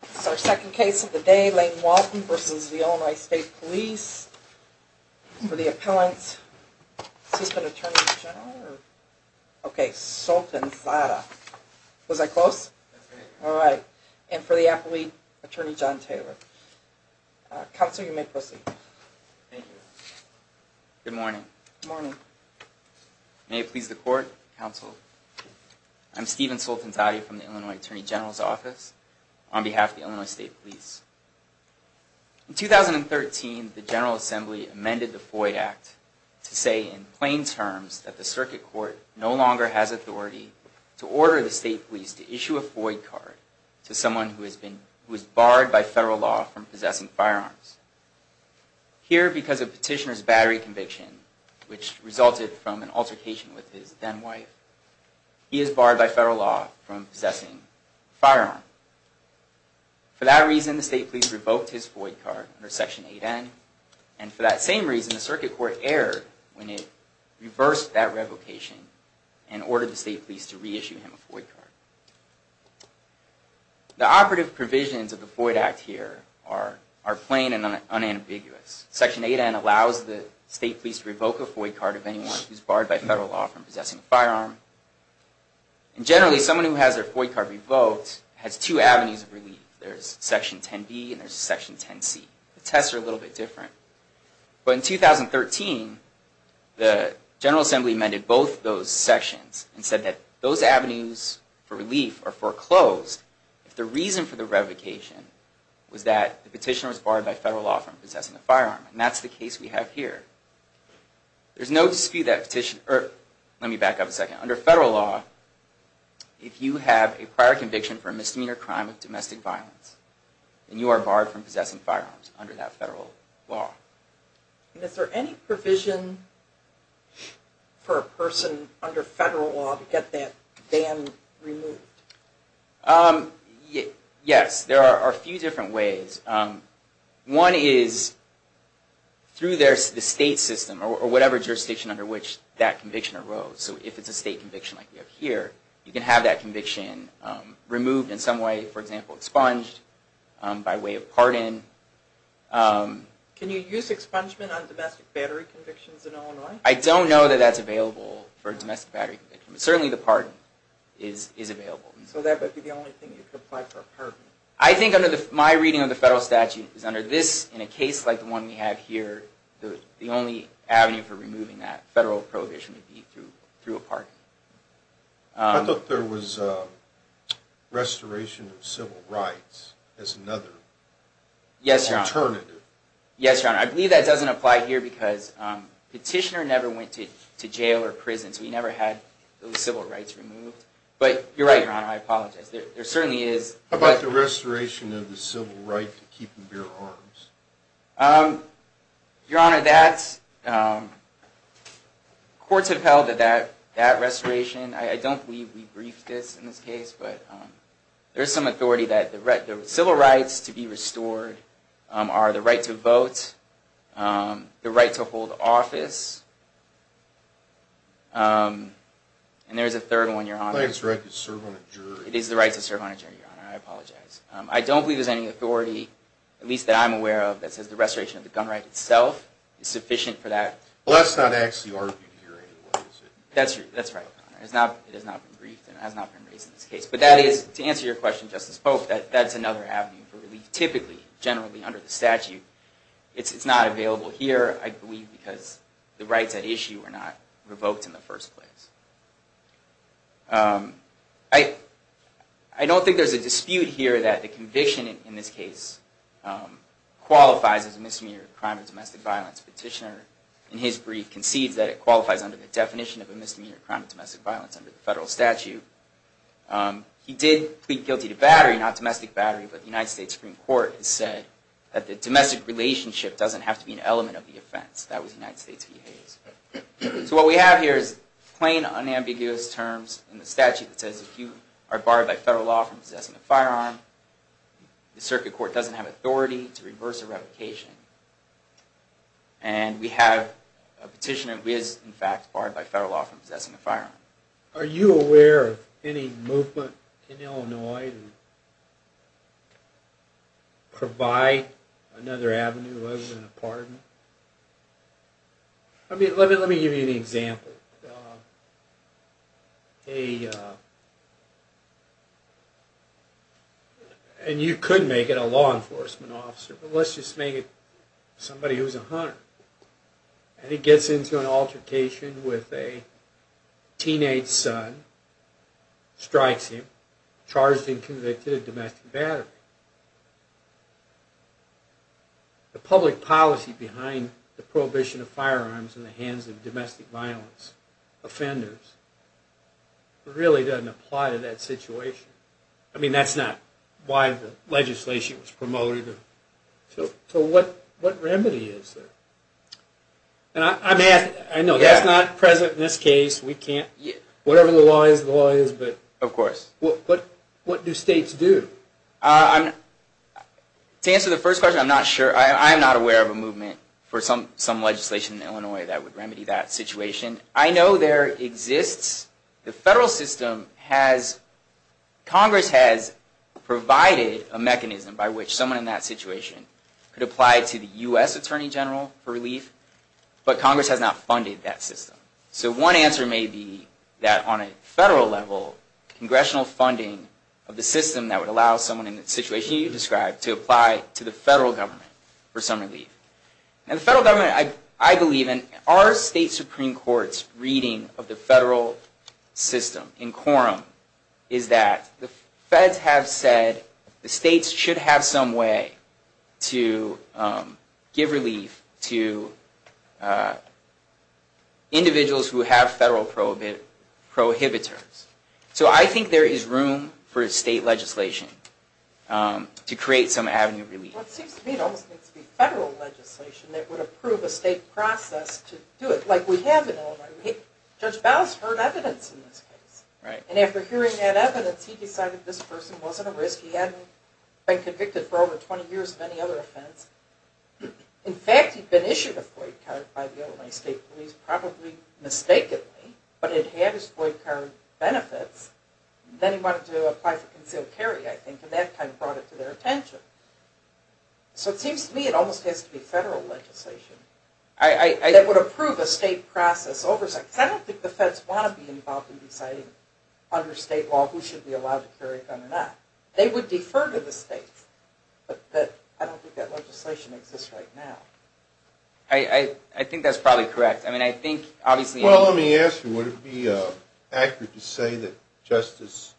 This is our second case of the day, Lane Walton v. The Illinois State Police, for the appellant, Assistant Attorney General, or? Okay, Sultan Zahra. Was I close? That's right. Alright. And for the appellate, Attorney John Taylor. Counsel, you may proceed. Thank you. Good morning. Good morning. May it please the court, counsel. I'm Stephen Sultan Zahra from the Illinois Attorney General's office on behalf of the Illinois State Police. In 2013, the General Assembly amended the Floyd Act to say in plain terms that the circuit court no longer has authority to order the state police to issue a Floyd card to someone who has been, who is barred by federal law from possessing firearms. Here, because of petitioner's battery conviction, which resulted from an altercation with his then wife, he is barred by federal law from possessing a firearm. For that reason, the state police revoked his Floyd card under Section 8N. And for that same reason, the circuit court erred when it reversed that revocation and ordered the state police to reissue him a Floyd card. The operative provisions of the Floyd Act here are plain and unambiguous. Section 8N allows the state police to revoke a Floyd card of anyone who is barred by federal law from possessing a firearm. And generally, someone who has their Floyd card revoked has two avenues of relief. There's Section 10B and there's Section 10C. The tests are a little bit different. But in 2013, the General Assembly amended both those sections and said that those avenues for relief are foreclosed if the reason for the revocation was that the petitioner was barred by federal law from possessing a firearm. And that's the case we have here. There's no dispute that petitioner, or let me back up a second. Under federal law, if you have a prior conviction for a misdemeanor crime of domestic violence, then you are barred from possessing firearms under that federal law. Is there any provision for a person under federal law to get that ban removed? Yes, there are a few different ways. One is through the state system or whatever jurisdiction under which that conviction arose. So if it's a state conviction like we have here, you can have that conviction removed in some way, for example, expunged by way of pardon. Can you use expungement on domestic battery convictions in Illinois? I don't know that that's available for a domestic battery conviction. But certainly the pardon is available. So that would be the only thing you could apply for a pardon? I think under my reading of the federal statute is under this, in a case like the one we have here, the only avenue for removing that federal prohibition would be through a pardon. I thought there was restoration of civil rights as another alternative. Yes, Your Honor. I believe that doesn't apply here because Petitioner never went to jail or prison, so he never had those civil rights removed. But you're right, Your Honor, I apologize. There certainly is. How about the restoration of the civil right to keep and bear arms? Your Honor, courts have held that restoration. I don't believe we briefed this in this case. But there is some authority that the civil rights to be restored are the right to vote, the right to hold office, and there is a third one, Your Honor. The right to serve on a jury. It is the right to serve on a jury, Your Honor. I apologize. I don't believe there's any authority, at least that I'm aware of, that says the restoration of the gun right itself is sufficient for that. Well, that's not actually argued here anyway, is it? That's right, Your Honor. It has not been briefed and it has not been raised in this case. But that is, to answer your question, Justice Polk, that that's another avenue for relief, typically, generally under the statute. It's not available here, I believe, because the rights at issue were not revoked in the first place. I don't think there's a dispute here that the conviction in this case qualifies as a misdemeanor crime of domestic violence. Petitioner, in his brief, concedes that it qualifies under the definition of a misdemeanor crime of domestic violence under the federal statute. He did plead guilty to battery, not domestic battery, but the United States Supreme Court has said that the domestic relationship doesn't have to be an element of the offense. That was United States behavior. So what we have here is plain, unambiguous terms in the statute that says if you are barred by federal law from possessing a firearm, the circuit court doesn't have authority to reverse a revocation. And we have a petitioner who is, in fact, barred by federal law from possessing a firearm. Are you aware of any movement in Illinois to provide another avenue other than a pardon? Let me give you an example. And you could make it a law enforcement officer, but let's just make it somebody who's a hunter. And he gets into an altercation with a teenage son, strikes him, charged and convicted of domestic battery. The public policy behind the prohibition of firearms in the hands of domestic violence offenders really doesn't apply to that situation. I mean, that's not why the legislation was promoted. So what remedy is there? I know that's not present in this case. Whatever the law is, the law is. Of course. But what do states do? To answer the first question, I'm not sure. I'm not aware of a movement for some legislation in Illinois that would remedy that situation. I know there exists. The federal system has, Congress has provided a mechanism by which someone in that situation could apply to the U.S. Attorney General for relief. But Congress has not funded that system. So one answer may be that on a federal level, congressional funding of the system that would allow someone in the situation you described to apply to the federal government for some relief. Now the federal government, I believe, and our state Supreme Court's reading of the federal system in quorum, is that the feds have said the states should have some way to give relief to individuals who have federal prohibitors. So I think there is room for state legislation to create some avenue of relief. Well, it seems to me it almost needs to be federal legislation that would approve a state process to do it. Like we have in Illinois. Judge Bowes heard evidence in this case. And after hearing that evidence, he decided this person wasn't a risk. He hadn't been convicted for over 20 years of any other offense. In fact, he'd been issued a FOIA card by the Illinois State Police, probably mistakenly, but it had his FOIA card benefits. Then he wanted to apply for concealed carry, I think, and that kind of brought it to their attention. So it seems to me it almost has to be federal legislation that would approve a state process oversight. Because I don't think the feds want to be involved in deciding under state law who should be allowed to carry a gun or not. They would defer to the states. But I don't think that legislation exists right now. I think that's probably correct. Well, let me ask you, would it be accurate to say that Justice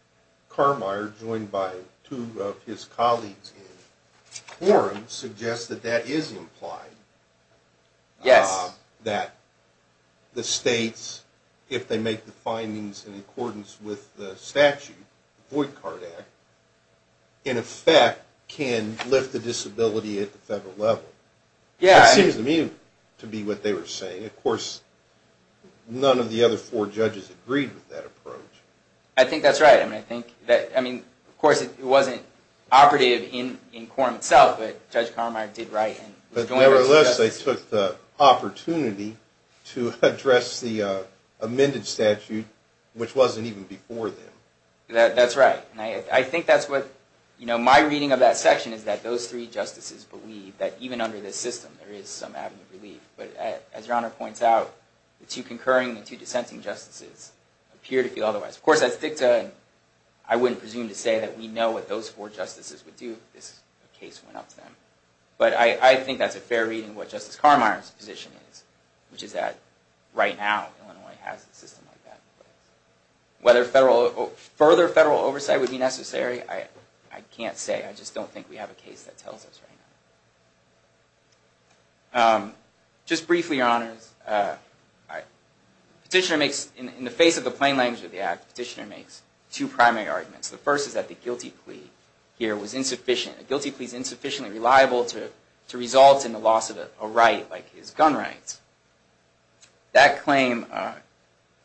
Carmeier, joined by two of his colleagues in quorum, suggests that that is implied? Yes. That the states, if they make the findings in accordance with the statute, the Voight-Card Act, in effect can lift the disability at the federal level. That seems to me to be what they were saying. Of course, none of the other four judges agreed with that approach. I think that's right. I mean, of course, it wasn't operative in quorum itself, but Judge Carmeier did write. Nevertheless, they took the opportunity to address the amended statute, which wasn't even before them. That's right. My reading of that section is that those three justices believe that even under this system, there is some avenue of relief. But as Your Honor points out, the two concurring and two dissenting justices appear to feel otherwise. Of course, I wouldn't presume to say that we know what those four justices would do if this case went up to them. But I think that's a fair reading of what Justice Carmeier's position is, which is that right now, Illinois has a system like that in place. Whether further federal oversight would be necessary, I can't say. I just don't think we have a case that tells us right now. Just briefly, Your Honors, in the face of the plain language of the Act, Petitioner makes two primary arguments. The first is that the guilty plea here was insufficient. A guilty plea is insufficiently reliable to result in the loss of a right, like his gun rights. That claim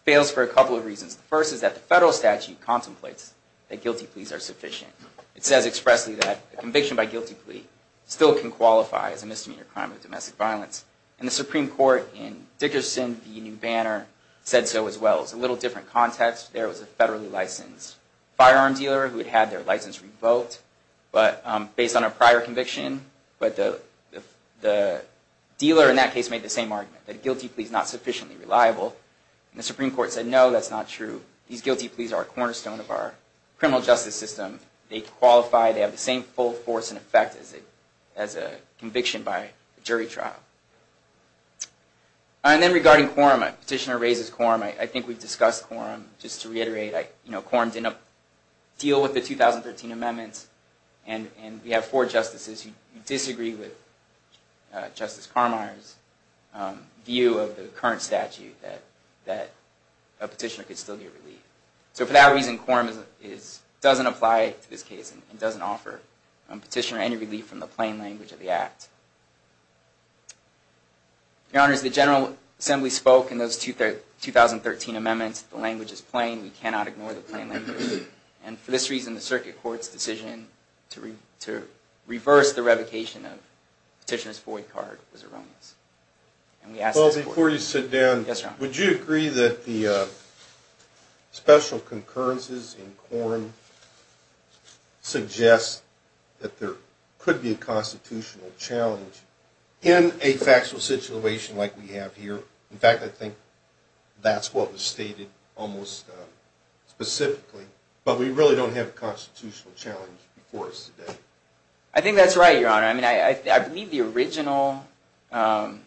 fails for a couple of reasons. The first is that the federal statute contemplates that guilty pleas are sufficient. It says expressly that a conviction by guilty plea still can qualify as a misdemeanor crime of domestic violence. And the Supreme Court in Dickerson v. New Banner said so as well. It's a little different context. There was a federally licensed firearm dealer who had had their license revoked based on a prior conviction. But the dealer in that case made the same argument, that a guilty plea is not sufficiently reliable. And the Supreme Court said, no, that's not true. These guilty pleas are a cornerstone of our criminal justice system. They qualify, they have the same full force and effect as a conviction by a jury trial. And then regarding quorum, Petitioner raises quorum. I think we've discussed quorum. Just to reiterate, quorum didn't deal with the 2013 amendments. And we have four justices who disagree with Justice Carmeier's view of the current statute, that a petitioner could still get relief. So for that reason, quorum doesn't apply to this case and doesn't offer a petitioner any relief from the plain language of the Act. Your Honors, the General Assembly spoke in those 2013 amendments. The language is plain. We cannot ignore the plain language. And for this reason, the Circuit Court's decision to reverse the revocation of Petitioner's void card was erroneous. Before you sit down, would you agree that the special concurrences in quorum suggest that there could be a constitutional challenge in a factual situation like we have here? In fact, I think that's what was stated almost specifically. But we really don't have a constitutional challenge before us today. I think that's right, Your Honor. I mean, I believe the original, I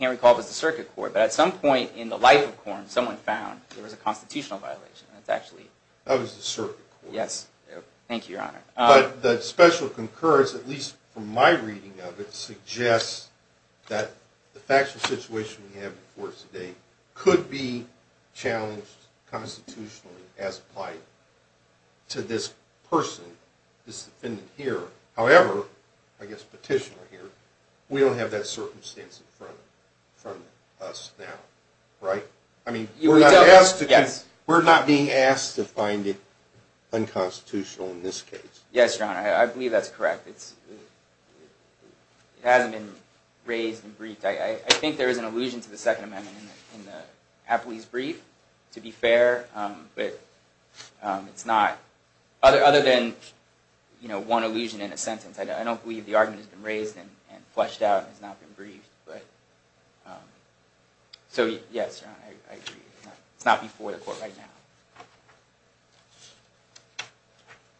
can't recall if it was the Circuit Court. But at some point in the life of quorum, someone found there was a constitutional violation. That was the Circuit Court. Yes. Thank you, Your Honor. But the special concurrence, at least from my reading of it, suggests that the factual situation we have before us today could be challenged constitutionally as applied to this person, this defendant here. However, I guess Petitioner here, we don't have that circumstance in front of us now, right? We're not being asked to find it unconstitutional in this case. Yes, Your Honor. I believe that's correct. It hasn't been raised and briefed. I think there is an allusion to the Second Amendment in the Apley's brief, to be fair. But other than one allusion in a sentence, I don't believe the argument has been raised and fleshed out and has not been briefed. So, yes, Your Honor, I agree. It's not before the court right now.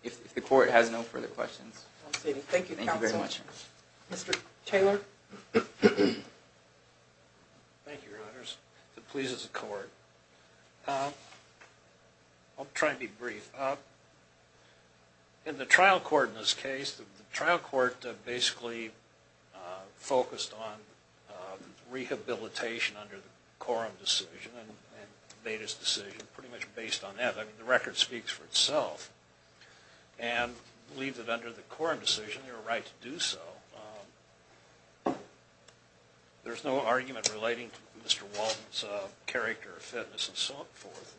If the court has no further questions. Thank you, Counsel. Thank you very much. Mr. Taylor? Thank you, Your Honors. If it pleases the court. I'll try and be brief. In the trial court in this case, the trial court basically focused on rehabilitation under the Coram decision and made its decision pretty much based on that. I mean, the record speaks for itself. And I believe that under the Coram decision, they were right to do so. There's no argument relating to Mr. Walden's character or fitness and so forth.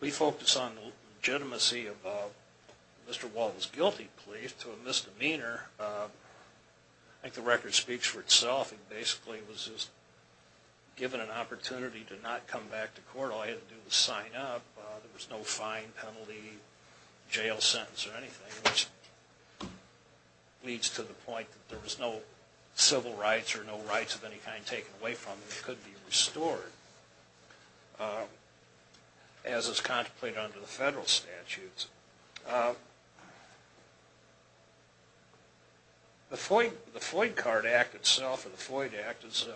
We focus on the legitimacy of Mr. Walden's guilty plea to a misdemeanor. I think the record speaks for itself. It basically was just given an opportunity to not come back to court. All you had to do was sign up. There was no fine, penalty, jail sentence or anything, which leads to the point that there was no civil rights or no rights of any kind taken away from him. He could be restored. As is contemplated under the federal statutes. The Floyd Card Act itself, or the Floyd Act, is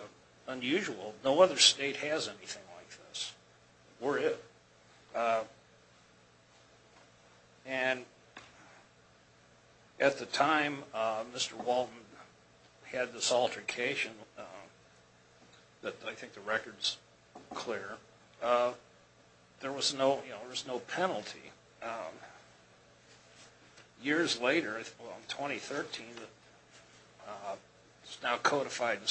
unusual. No other state has anything like this. Or it. And at the time, Mr. Walden had this altercation that I think the record's clear. There was no penalty. Years later, in 2013, it's now codified in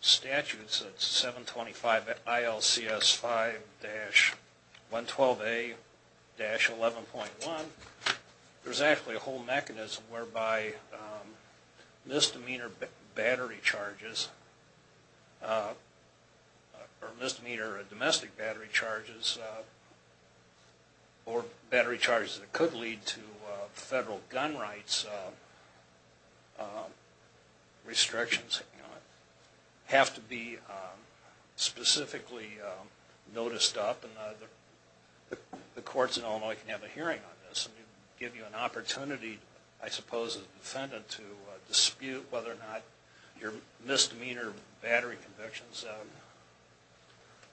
statutes at 725 ILCS 5-112A-11.1. There's actually a whole mechanism whereby misdemeanor battery charges or misdemeanor domestic battery charges or battery charges that could lead to federal gun rights restrictions have to be specifically noticed up. The courts in Illinois can have a hearing on this and give you an opportunity, I suppose, as a defendant to dispute whether or not your misdemeanor battery convictions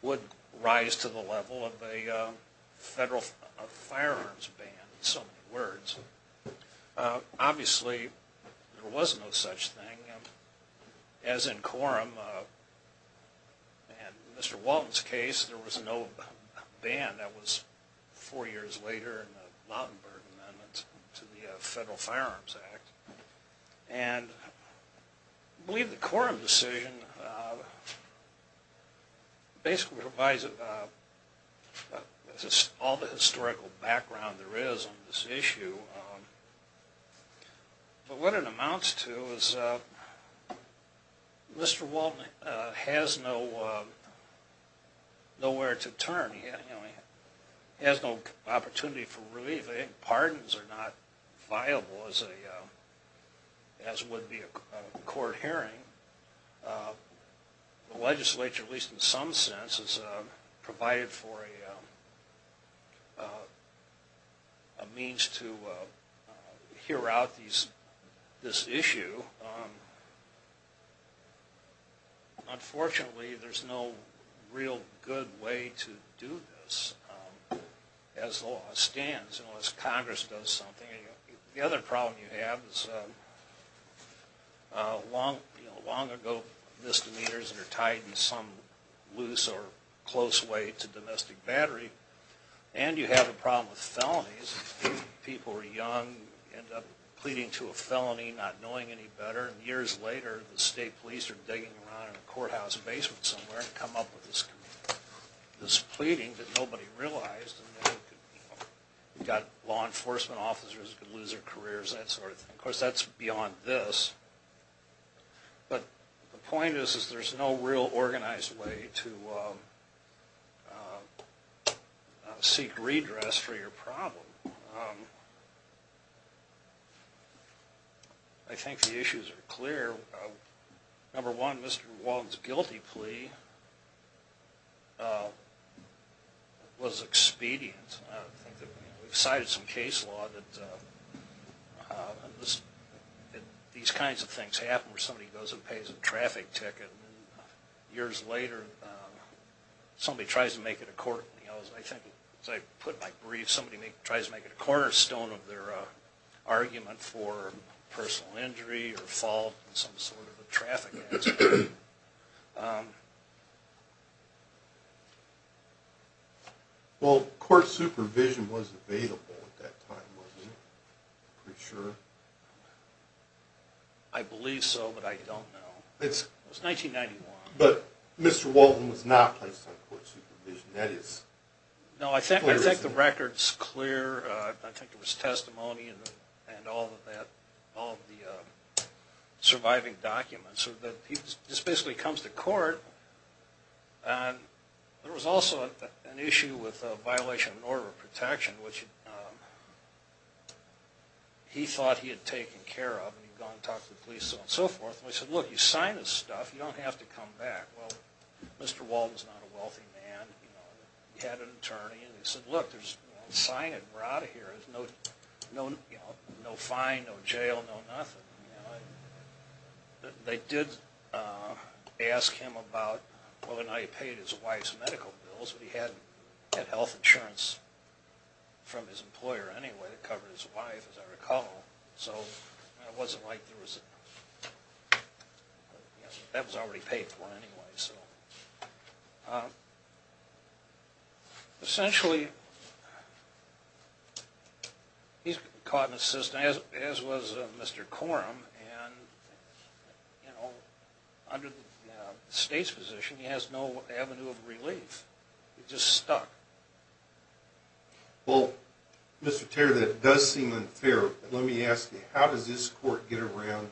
would rise to the level of a federal firearms ban in so many words. Obviously, there was no such thing. As in Coram and Mr. Walden's case, there was no ban. That was four years later in the Lautenberg Amendment to the Federal Firearms Act. And I believe the Coram decision basically provides all the historical background there is on this issue. But what it amounts to is Mr. Walden has nowhere to turn. He has no opportunity for relief. I think pardons are not viable, as would be a court hearing. The legislature, at least in some sense, has provided for a means to hear out this issue. Unfortunately, there's no real good way to do this as law stands, unless Congress does something. The other problem you have is long ago misdemeanors are tied in some loose or close way to domestic battery. And you have a problem with felonies. People are young, end up pleading to a felony not knowing any better. And years later, the state police are digging around in a courthouse basement somewhere to come up with this pleading that nobody realized. You've got law enforcement officers who could lose their careers, that sort of thing. Of course, that's beyond this. But the point is there's no real organized way to seek redress for your problem. I think the issues are clear. Number one, Mr. Walden's guilty plea was expedient. We've cited some case law that these kinds of things happen where somebody goes and pays a traffic ticket. Years later, somebody tries to make it a court. As I put my brief, somebody tries to make it a cornerstone of their argument for personal injury or fault in some sort of a traffic accident. Well, court supervision was available at that time, wasn't it? Are you sure? I believe so, but I don't know. It was 1991. But Mr. Walden was not placed on court supervision. No, I think the record's clear. I think there was testimony and all of the surviving documents. He just basically comes to court. There was also an issue with a violation of an order of protection, which he thought he had taken care of. He'd gone and talked to the police and so forth. He said, look, you sign this stuff, you don't have to come back. Well, Mr. Walden's not a wealthy man. He had an attorney. He said, look, sign it and we're out of here. There's no fine, no jail, no nothing. They did ask him about whether or not he paid his wife's medical bills. But he had health insurance from his employer anyway that covered his wife, as I recall. So it wasn't like there was anything. That was already paid for anyway. Essentially, he's caught in the system, as was Mr. Corum. Under the state's position, he has no avenue of relief. He's just stuck. Well, Mr. Taylor, that does seem unfair. But let me ask you, how does this court get around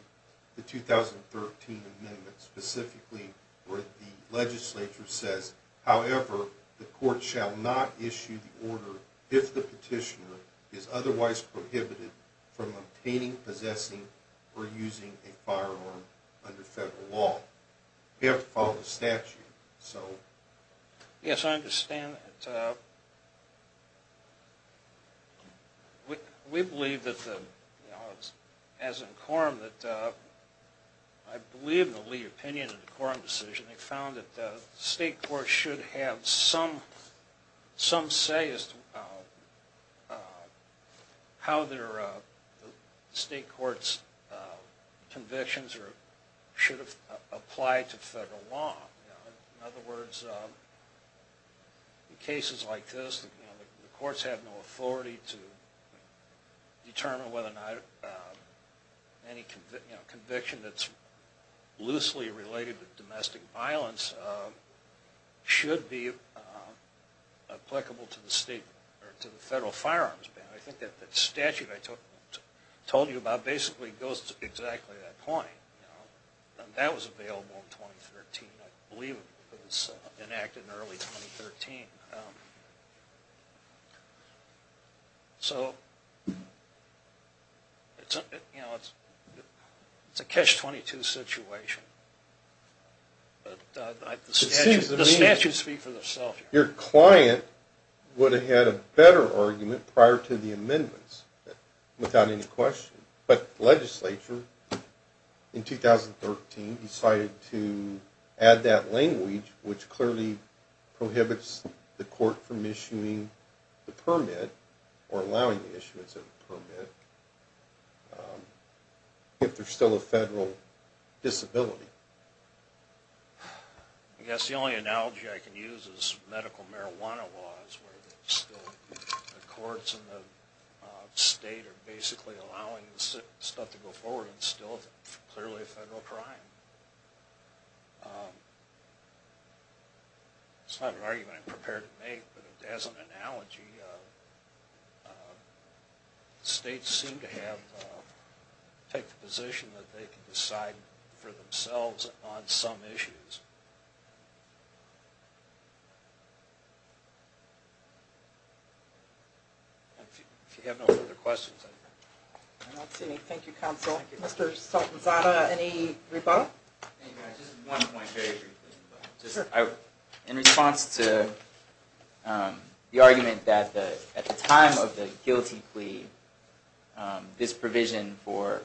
the 2013 amendment, specifically where the legislature says, however, the court shall not issue the order if the petitioner is otherwise prohibited from obtaining, possessing, or using a firearm under federal law? You have to follow the statute. Yes, I understand. We believe that, as in Corum, I believe in the Lee opinion in the Corum decision, they found that the state court should have some say as to how the state court's convictions should apply to federal law. In other words, in cases like this, the courts have no authority to determine whether or not any conviction that's loosely related to domestic violence should be applicable to the federal firearms ban. I think that statute I told you about basically goes to exactly that point. That was available in 2013, I believe it was enacted in early 2013. So, it's a catch-22 situation. But the statutes speak for themselves. Your client would have had a better argument prior to the amendments, without any question. But the legislature, in 2013, decided to add that language, which clearly prohibits the court from issuing the permit, or allowing the issuance of the permit, if they're still a federal disability. I guess the only analogy I can use is medical marijuana laws, where the courts in the state are basically allowing stuff to go forward, and it's still clearly a federal crime. It's not an argument I'm prepared to make, but as an analogy, the states seem to take the position that they can decide for themselves on some issues. If you have no further questions... I don't see any. Thank you, counsel. Mr. Sultanzada, any rebuttal? Just one point, very briefly. In response to the argument that at the time of the guilty plea, this provision for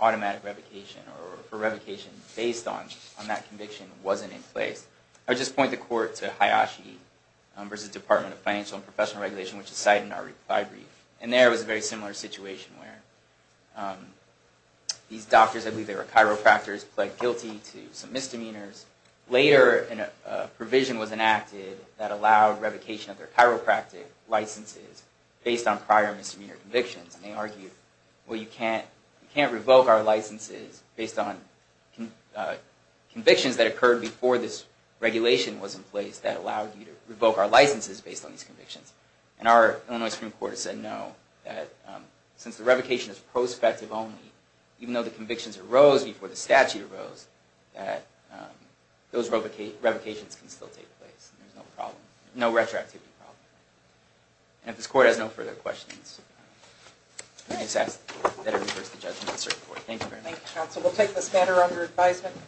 automatic revocation, or for revocation based on that conviction, wasn't in place, I would just point the court to Hayashi v. Department of Financial and Professional Regulation, which is cited in our reply brief. And there was a very similar situation where these doctors, I believe they were chiropractors, pled guilty to some misdemeanors. Later, a provision was enacted that allowed revocation of their chiropractic licenses based on prior misdemeanor convictions, and they argued, well, you can't revoke our licenses based on convictions that occurred before this regulation was in place that allowed you to revoke our licenses based on these convictions. And our Illinois Supreme Court has said no, that since the revocation is prospective only, even though the convictions arose before the statute arose, that those revocations can still take place. There's no problem, no retroactivity problem. And if this court has no further questions, I just ask that it reverse the judgment of the circuit court. Thank you very much. Thank you, counsel. We'll take this matter under advisement.